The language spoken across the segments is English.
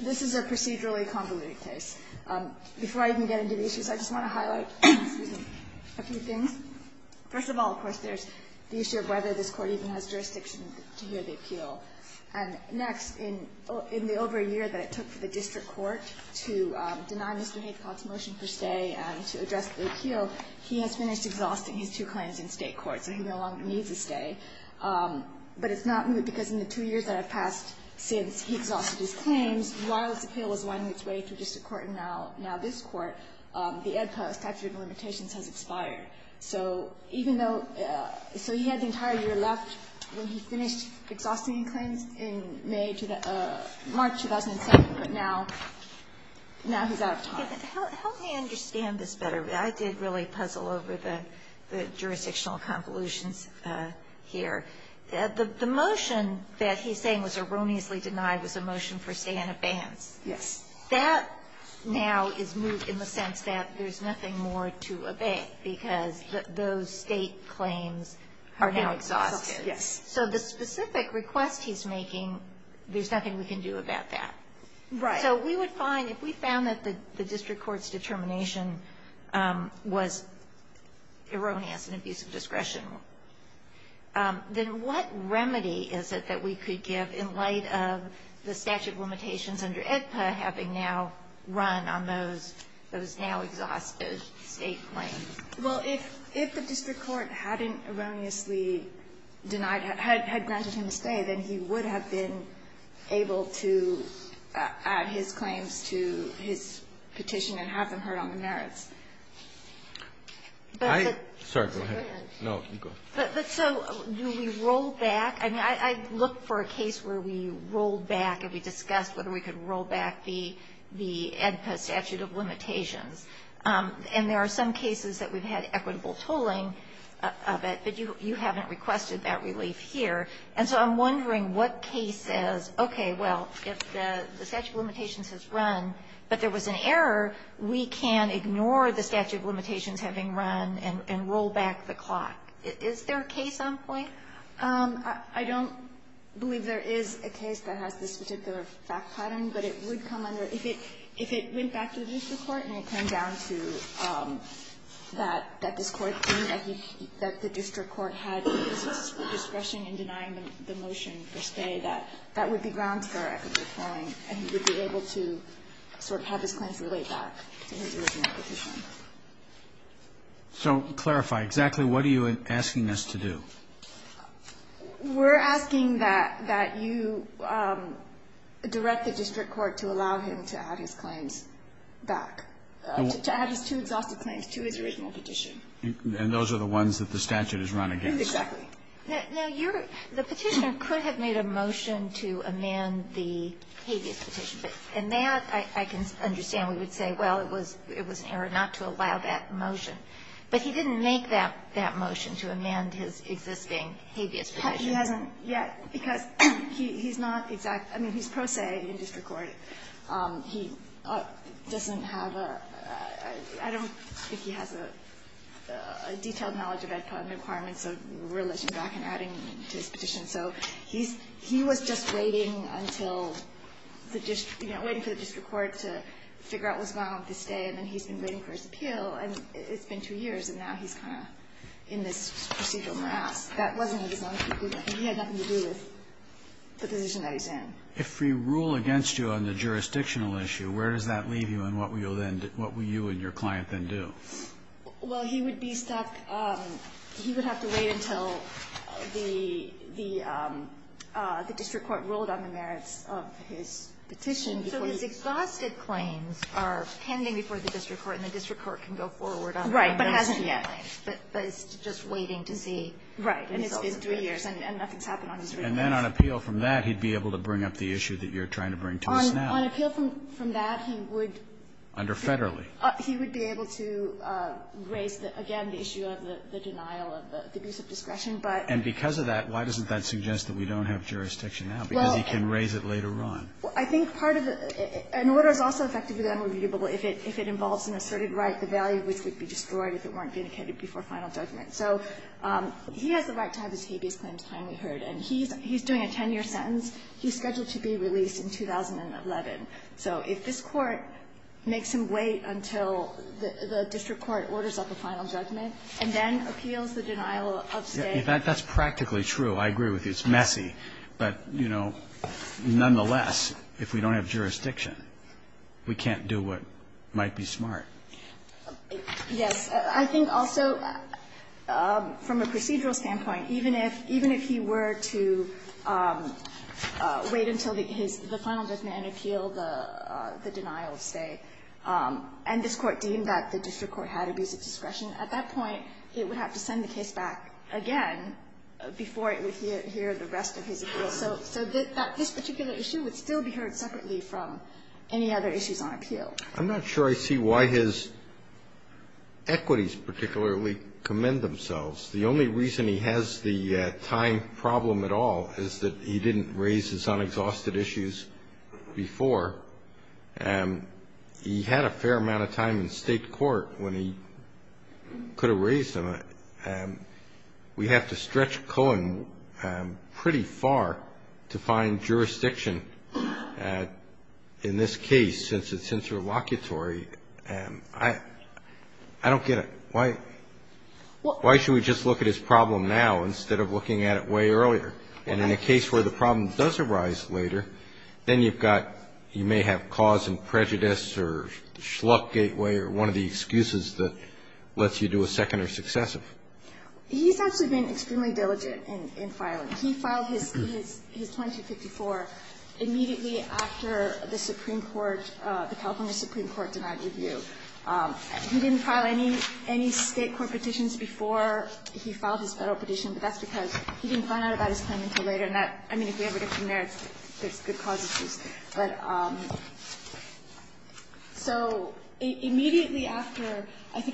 This is a procedurally convoluted case. Before I even get into the issues, I just want to highlight a few things. First of all, of course, there's the issue of whether this court even has jurisdiction to hear the appeal. And next, in the over a year that it took for the district court to deny Mr. Haithcock's motion for stay and to address the appeal, he has finished exhausting his two claims in state court, so he no longer needs a stay. But it's not new, because in the two years that have passed since he exhausted his claims, while his appeal was winding its way through district court and now this court, the Ed Post statute of limitations has expired. So he had the entire year left when he finished exhausting his claims in March 2007, but now he's out of time. Kagan, help me understand this better. I did really puzzle over the jurisdictional convolutions here. The motion that he's saying was erroneously denied was a motion for stay in advance. Yes. That now is moot in the sense that there's nothing more to obey, because those state claims are now exhausted. Yes. So the specific request he's making, there's nothing we can do about that. Right. So we would find, if we found that the district court's determination was erroneous in abuse of discretion, then what remedy is it that we could give in light of the statute of limitations under AEDPA having now run on those now exhausted state claims? Well, if the district court hadn't erroneously denied, had granted him a stay, then he would have been able to add his claims to his petition and have them heard on the merits. I — Sorry. Go ahead. No, you go. But so do we roll back? I mean, I look for a case where we rolled back and we discussed whether we could roll back the AEDPA statute of limitations. And there are some cases that we've had equitable tolling of it, but you haven't requested that relief here. And so I'm wondering what case says, okay, well, if the statute of limitations has run but there was an error, we can ignore the statute of limitations having run and roll back the clock. Is there a case on point? I don't believe there is a case that has this particular fact pattern, but it would come under — if it went back to the district court and it came down to that this district court had discretion in denying the motion for stay, that that would be grounds for equitable tolling and he would be able to sort of have his claims relayed back to his original petition. So clarify. Exactly what are you asking us to do? We're asking that you direct the district court to allow him to add his claims back, to add his two exhaustive claims to his original petition. And those are the ones that the statute has run against. Exactly. Now, you're — the Petitioner could have made a motion to amend the habeas petition. And that I can understand. We would say, well, it was an error not to allow that motion. But he didn't make that motion to amend his existing habeas petition. He hasn't yet because he's not exact — I mean, he's pro se in district court. He doesn't have a — I don't think he has a detailed knowledge of the requirements of relishing back and adding to his petition. So he's — he was just waiting until the district — you know, waiting for the district court to figure out what's going on with his stay, and then he's been waiting for his appeal, and it's been two years, and now he's kind of in this procedural morass. That wasn't his own — he had nothing to do with the position that he's in. If we rule against you on the jurisdictional issue, where does that leave you, and what will you then — what will you and your client then do? Well, he would be stuck. He would have to wait until the district court ruled on the merits of his petition before he — So his exhausted claims are pending before the district court, and the district court can go forward on them. Right. But hasn't yet. But it's just waiting to see. Right. And it's been three years, and nothing's happened on his remittance. And then on appeal from that, he'd be able to bring up the issue that you're trying to bring to us now. On appeal from that, he would — Under federally. He would be able to raise, again, the issue of the denial of the abuse of discretion, but — And because of that, why doesn't that suggest that we don't have jurisdiction now? Because he can raise it later on. Well, I think part of the — an order is also effectively unreviewable if it involves an asserted right, the value of which would be destroyed if it weren't vindicated before final judgment. So he has the right to have his habeas claims finally heard. And he's doing a 10-year sentence. He's scheduled to be released in 2011. So if this Court makes him wait until the district court orders up a final judgment and then appeals the denial of state — That's practically true. I agree with you. It's messy. But, you know, nonetheless, if we don't have jurisdiction, we can't do what might be smart. Yes. I think also, from a procedural standpoint, even if — even if he were to wait until his — the final judgment and appeal the denial of state, and this Court deemed that the district court had abuse of discretion, at that point, it would have to send the case back again before it would hear the rest of his appeal. So this particular issue would still be heard separately from any other issues on appeal. I'm not sure I see why his equities particularly commend themselves. The only reason he has the time problem at all is that he didn't raise his unexhausted issues before. He had a fair amount of time in state court when he could have raised them. We have to stretch Cohen pretty far to find jurisdiction in this case, since it's interlocutory. I don't get it. Why should we just look at his problem now instead of looking at it way earlier? And in a case where the problem does arise later, then you've got — you may have cause and prejudice or the schluck gateway or one of the excuses that lets you do a second or successive. He's actually been extremely diligent in filing. He filed his 2254 immediately after the Supreme Court, the California Supreme Court, denied review. He didn't file any state court petitions before he filed his Federal petition, but that's because he didn't find out about his claim until later. And that, I mean, if we ever get from there, there's good cause issues.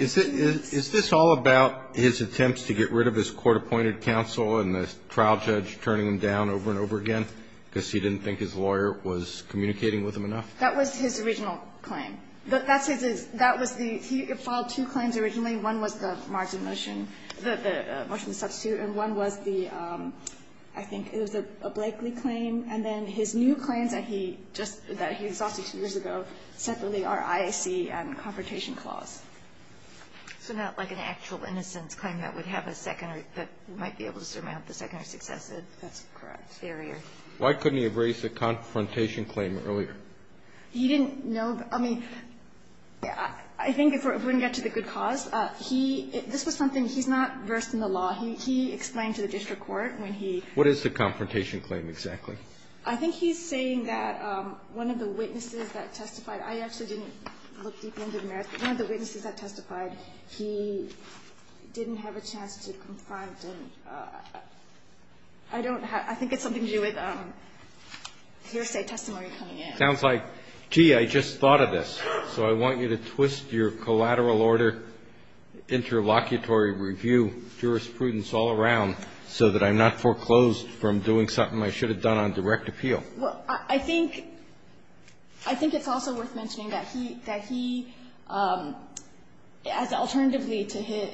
Is this all about his attempts to get rid of his court-appointed counsel and the trial judge turning him down over and over again because he didn't think his lawyer was communicating with him enough? That was his original claim. That's his — that was the — he filed two claims originally. One was the margin motion, the motion to substitute, and one was the — I think it was a Blakeley claim. And then his new claims that he just — that he exhausted two years ago separately are IAC and Confrontation Clause. So not like an actual innocence claim that would have a secondary — that might be able to surmount the secondary successes? That's correct. Barrier. Why couldn't he have raised the Confrontation Claim earlier? He didn't know. I mean, I think if we're going to get to the good cause, he — this was something he's not versed in the law. He explained to the district court when he — What is the Confrontation Claim exactly? I think he's saying that one of the witnesses that testified — I actually didn't look deep into the merits, but one of the witnesses that testified, he didn't have a chance to confront and I don't have — I think it's something to do with hearsay testimony coming in. It sounds like, gee, I just thought of this, so I want you to twist your collateral order, interlocutory review, jurisprudence all around so that I'm not foreclosed from doing something I should have done on direct appeal. Well, I think — I think it's also worth mentioning that he — that he, as alternatively to his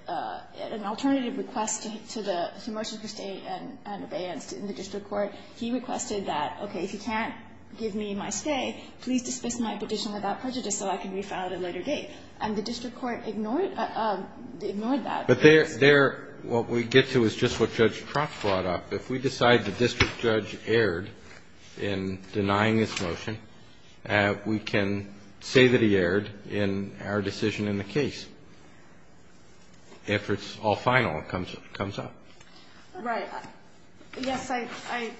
— an alternative request to the — to marshal for stay and abeyance in the district court, he requested that, okay, if you can't give me my stay, please dismiss my petition without prejudice so I can be found at a later date. And the district court ignored — ignored that. But there — there, what we get to is just what Judge Trotz brought up. If we decide the district judge erred in denying this motion, we can say that he erred in our decision in the case. If it's all final, it comes up. Right. Yes, I — I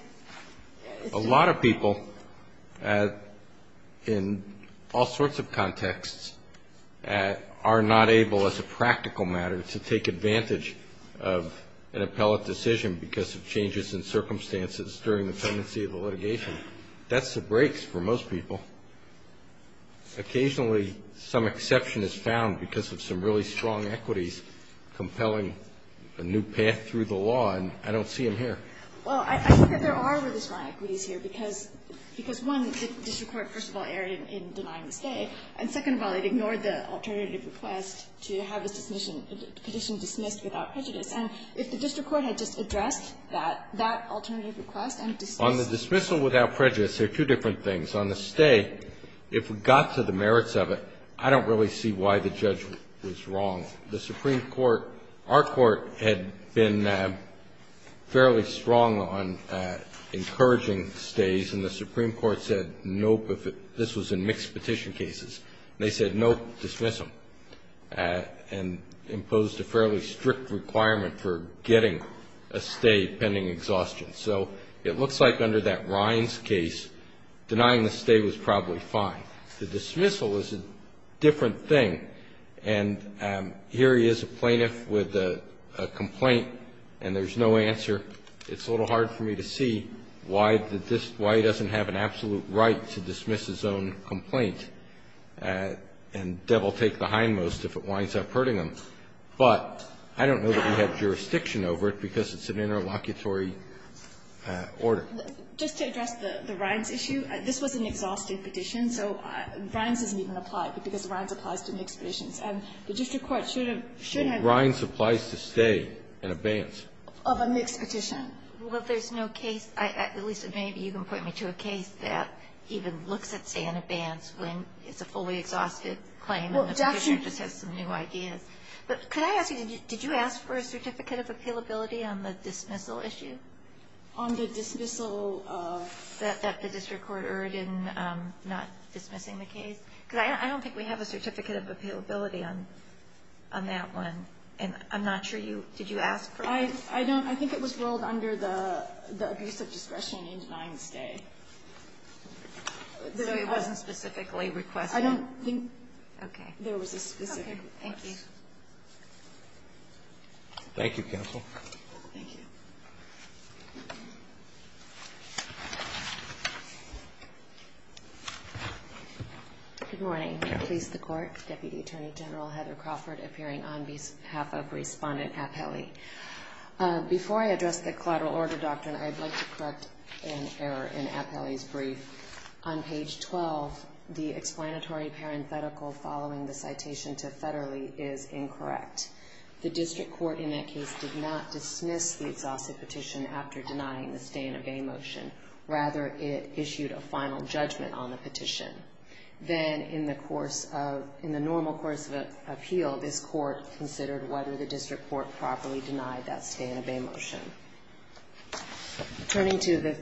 — A lot of people in all sorts of contexts are not able, as a practical matter, to take during the tenancy of the litigation. That's the brakes for most people. Occasionally, some exception is found because of some really strong equities compelling a new path through the law, and I don't see them here. Well, I think that there are really strong equities here because — because, one, the district court, first of all, erred in denying the stay. And second of all, it ignored the alternative request to have his petition dismissed without prejudice. And if the district court had just addressed that — that alternative request and dismissed — On the dismissal without prejudice, there are two different things. On the stay, if we got to the merits of it, I don't really see why the judge was wrong. The Supreme Court — our Court had been fairly strong on encouraging stays, and the Supreme Court said, nope, if it — this was in mixed petition cases. They said, nope, dismiss him, and imposed a fairly strict requirement for getting a stay pending exhaustion. So it looks like under that Rhines case, denying the stay was probably fine. The dismissal is a different thing. And here he is, a plaintiff with a complaint, and there's no answer. It's a little hard for me to see why the — why he doesn't have an absolute right to dismiss his own complaint. And devil take the hindmost if it winds up hurting him. But I don't know that we have jurisdiction over it, because it's an interlocutory order. Just to address the Rhines issue, this was an exhausting petition, so Rhines doesn't even apply, because Rhines applies to mixed petitions. And the district court should have — Rhines applies to stay in advance. Of a mixed petition. Well, there's no case, at least maybe you can point me to a case that even looks at stay in advance when it's a fully exhausted claim and the petitioner just has some new ideas. But could I ask you, did you ask for a certificate of appealability on the dismissal issue? On the dismissal of — That the district court erred in not dismissing the case? Because I don't think we have a certificate of appealability on that one. And I'm not sure you — did you ask for it? I don't. I think it was ruled under the abuse of discretion in denying the stay. So it wasn't specifically requested? I don't think — Okay. There was a specific request. Okay. Thank you. Thank you, counsel. Thank you. Good morning. I please the Court. Deputy Attorney General Heather Crawford appearing on behalf of Respondent Appelli. Before I address the collateral order doctrine, I'd like to correct an error in Appelli's brief. On page 12, the explanatory parenthetical following the citation to federally is incorrect. The district court in that case did not dismiss the exhausted petition after denying the stay and obey motion. Rather, it issued a final judgment on the petition. Then in the course of — in the normal course of appeal, this court considered whether the district court properly denied that stay and obey motion. Turning to the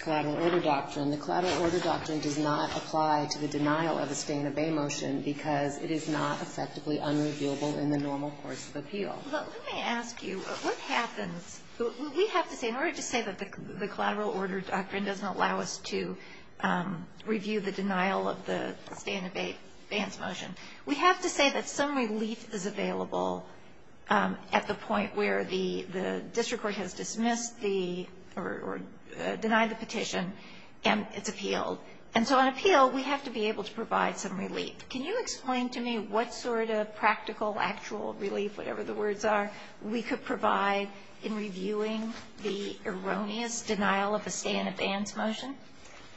collateral order doctrine, the collateral order doctrine does not apply to the denial of a stay and obey motion because it is not effectively unreviewable in the normal course of appeal. But let me ask you, what happens — we have to say, in order to say that the collateral order doctrine doesn't allow us to review the denial of the stay and abeyance motion, we have to say that some relief is available at the point where the district court has dismissed the — or denied the petition and it's appealed. And so on appeal, we have to be able to provide some relief. Can you explain to me what sort of practical, actual relief, whatever the words are, we could provide in reviewing the erroneous denial of a stay and abeyance motion?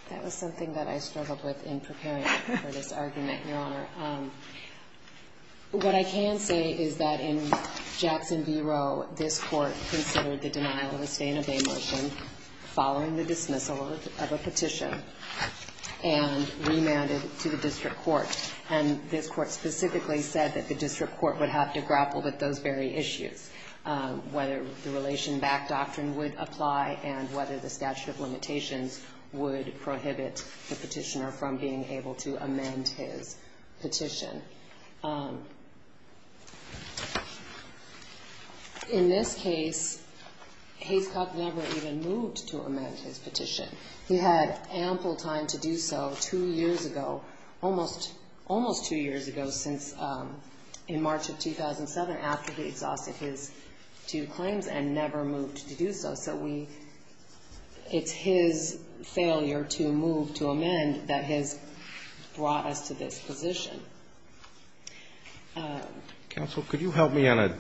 That was something that I struggled with in preparing for this argument, Your Honor. What I can say is that in Jackson v. Roe, this court considered the denial of a stay and obey motion following the dismissal of a petition and remanded it to the district court. And this court specifically said that the district court would have to grapple with those very issues, whether the relation back doctrine would apply and whether the statute of limitations would prohibit the petitioner from being able to amend his petition. In this case, Hayscock never even moved to amend his petition. He had ample time to do so two years ago, almost two years ago since — in March of 2007, after he failed to move to amend that has brought us to this position. Counsel, could you help me on a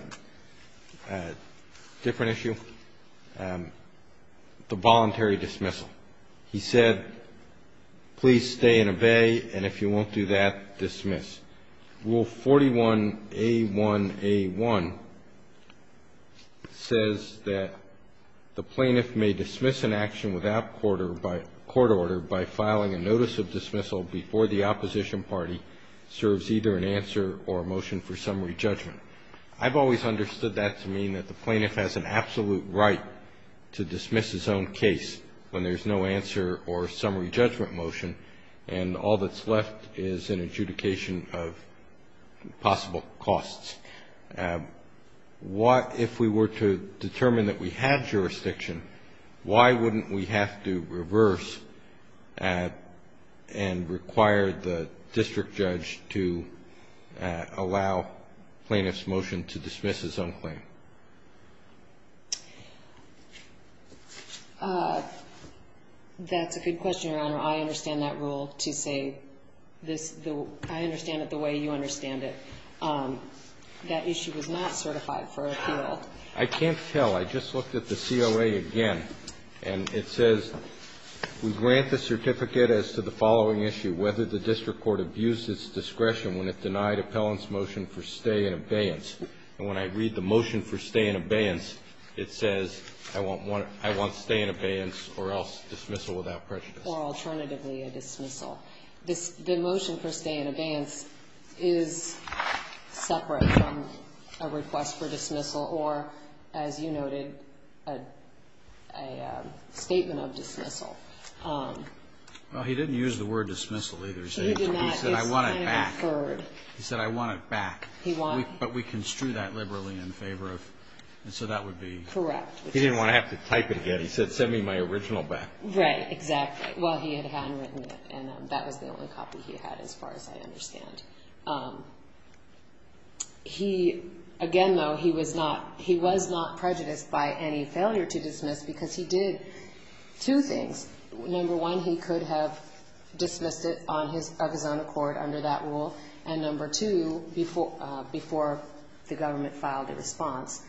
different issue? The voluntary dismissal. He said, please stay and obey, and if you won't do that, dismiss. Rule 41A1A1 says that the plaintiff may dismiss an action without court order by filing a notice of dismissal before the opposition party serves either an answer or a motion for summary judgment. I've always understood that to mean that the plaintiff has an absolute right to dismiss his own case when there's no answer or summary judgment motion, and all that's left is an adjudication of possible costs. If we were to determine that we had jurisdiction, why wouldn't we have to reverse and require the district judge to allow plaintiff's motion to dismiss his own claim? That's a good question, Your Honor. I understand that rule to say this — I understand it the way you understand it. That issue was not certified for appeal. I can't tell. I just looked at the COA again, and it says, we grant the certificate as to the following issue, whether the district court abused its discretion when it denied appellant's motion for stay in abeyance. And when I read the motion for stay in abeyance, it says, I want stay in abeyance or else dismissal without prejudice. Or alternatively a dismissal. The motion for stay in abeyance is separate from a request for dismissal or, as you noted, a statement of dismissal. Well, he didn't use the word dismissal either. He said, I want it back. He said, I want it back. But we construe that liberally in favor of — so that would be — Correct. He didn't want to have to type it again. He said, send me my original back. Right, exactly. Well, he had handwritten it, and that was the only copy he had as far as I understand. Again, though, he was not prejudiced by any failure to dismiss because he did two things. Number one, he could have dismissed it of his own accord under that rule. And number two, before the government filed a response.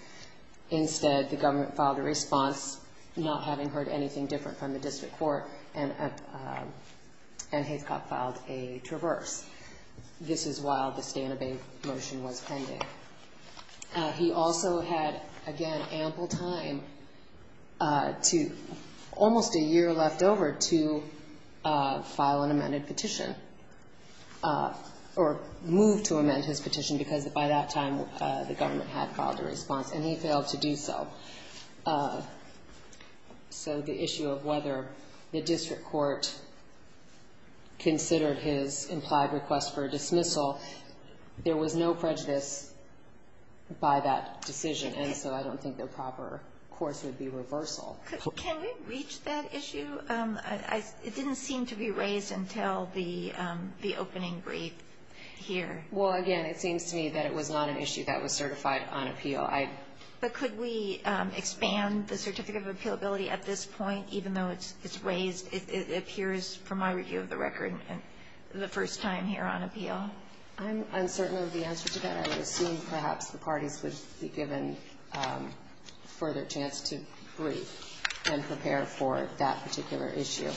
Instead, the government filed a response, not having heard anything different from the district court, and Hathcott filed a traverse. This is while the stay in abeyance motion was pending. He also had, again, ample time to — almost a year left before the district court stepped over to file an amended petition or move to amend his petition because by that time the government had filed a response, and he failed to do so. So the issue of whether the district court considered his implied request for dismissal, there was no prejudice by that decision, and so I don't think the proper course would be reversal. Can we reach that issue? It didn't seem to be raised until the opening brief here. Well, again, it seems to me that it was not an issue that was certified on appeal. But could we expand the certificate of appealability at this point, even though it's raised? It appears, from my review of the record, the first time here on appeal. I'm uncertain of the answer to that. I would assume perhaps the parties would be given a further chance to brief. And prepare for that particular issue.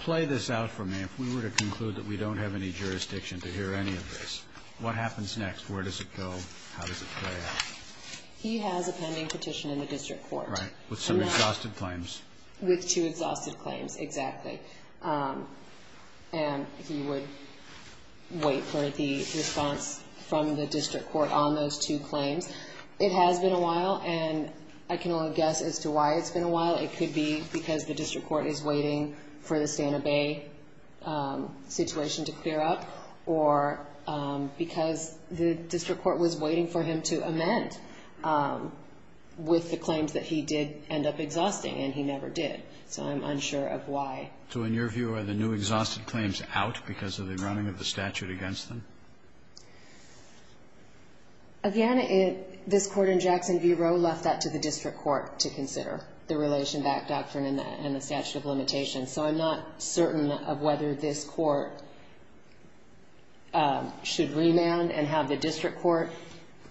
Play this out for me. If we were to conclude that we don't have any jurisdiction to hear any of this, what happens next? Where does it go? How does it play out? He has a pending petition in the district court. Right. With some exhausted claims. With two exhausted claims, exactly. And he would wait for the response from the district court on those two claims. It has been a while, and I can only guess as to why it's been a while. It could be because the district court is waiting for the Santa Bay situation to clear up, or because the district court was waiting for him to amend with the claims that he did end up exhausting, and he never did. So I'm unsure of why. So in your view, are the new exhausted claims out because of the running of the statute against them? Again, this Court in Jackson v. Roe left that to the district court to consider, the relation back doctrine and the statute of limitations. So I'm not certain of whether this court should remand and have the district court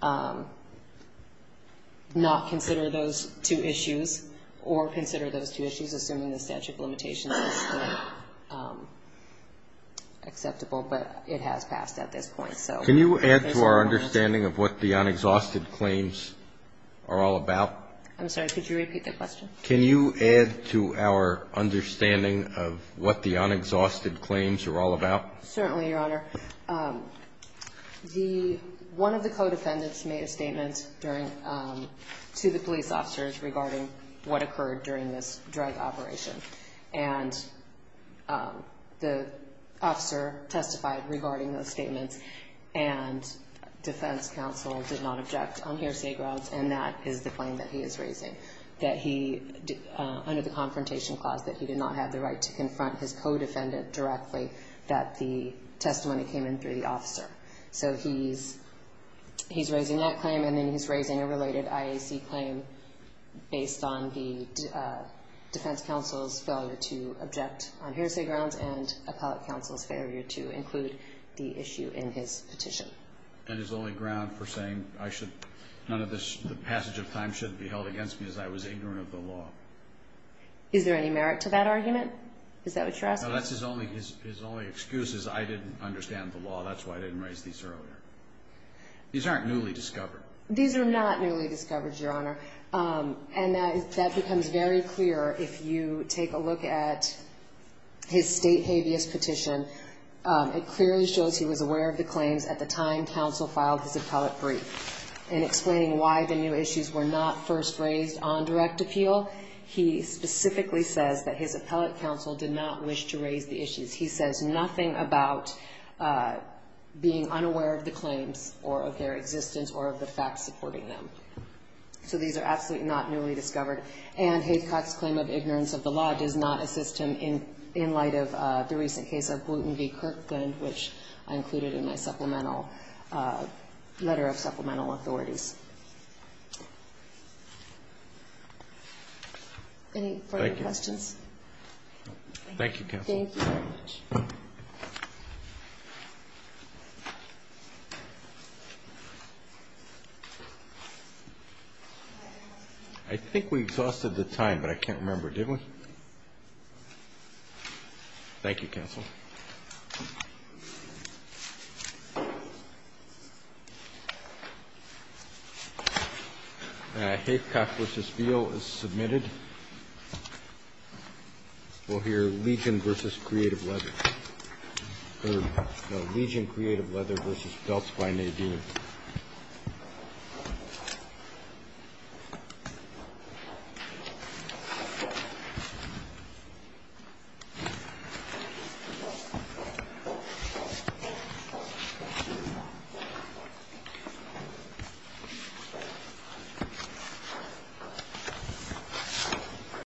not consider those two issues, or consider those two issues, assuming the statute of limitations is acceptable. But it has passed at this point. Can you add to our understanding of what the unexhausted claims are all about? I'm sorry. Could you repeat the question? Can you add to our understanding of what the unexhausted claims are all about? Certainly, Your Honor. One of the co-defendants made a statement to the police officers regarding what occurred during this drug operation, and the officer testified regarding those statements, and defense counsel did not object on hearsay grounds, and that is the claim that he is raising, that he, under the Confrontation Clause, that he did not have the right to confront his co-defendant directly, that the testimony came in through the officer. So he's raising that claim, and then he's raising a related IAC claim based on the defense counsel's failure to object on hearsay grounds and appellate counsel's failure to include the issue in his petition. And his only ground for saying, none of this passage of time should be held against me as I was ignorant of the law. Is there any merit to that argument? Is that what you're asking? No, his only excuse is, I didn't understand the law. That's why I didn't raise these earlier. These aren't newly discovered. These are not newly discovered, Your Honor. And that becomes very clear if you take a look at his state habeas petition. It clearly shows he was aware of the claims at the time counsel filed his appellate brief, and explaining why the new issues were not first raised on direct appeal. He specifically says that his appellate counsel did not wish to raise the issues. He says nothing about being unaware of the claims or of their existence or of the facts supporting them. So these are absolutely not newly discovered. And Havecock's claim of ignorance of the law does not assist him in light of the recent case of Gluten v. Kirkland, which I included in my supplemental letter of supplemental authorities. Any further questions? Thank you, counsel. Thank you very much. I think we exhausted the time, but I can't remember, did we? Thank you, counsel. Thank you. Havecock v. Beal is submitted. We'll hear Legion v. Creative Leather. Legion Creative Leather v. Belts by Nadine.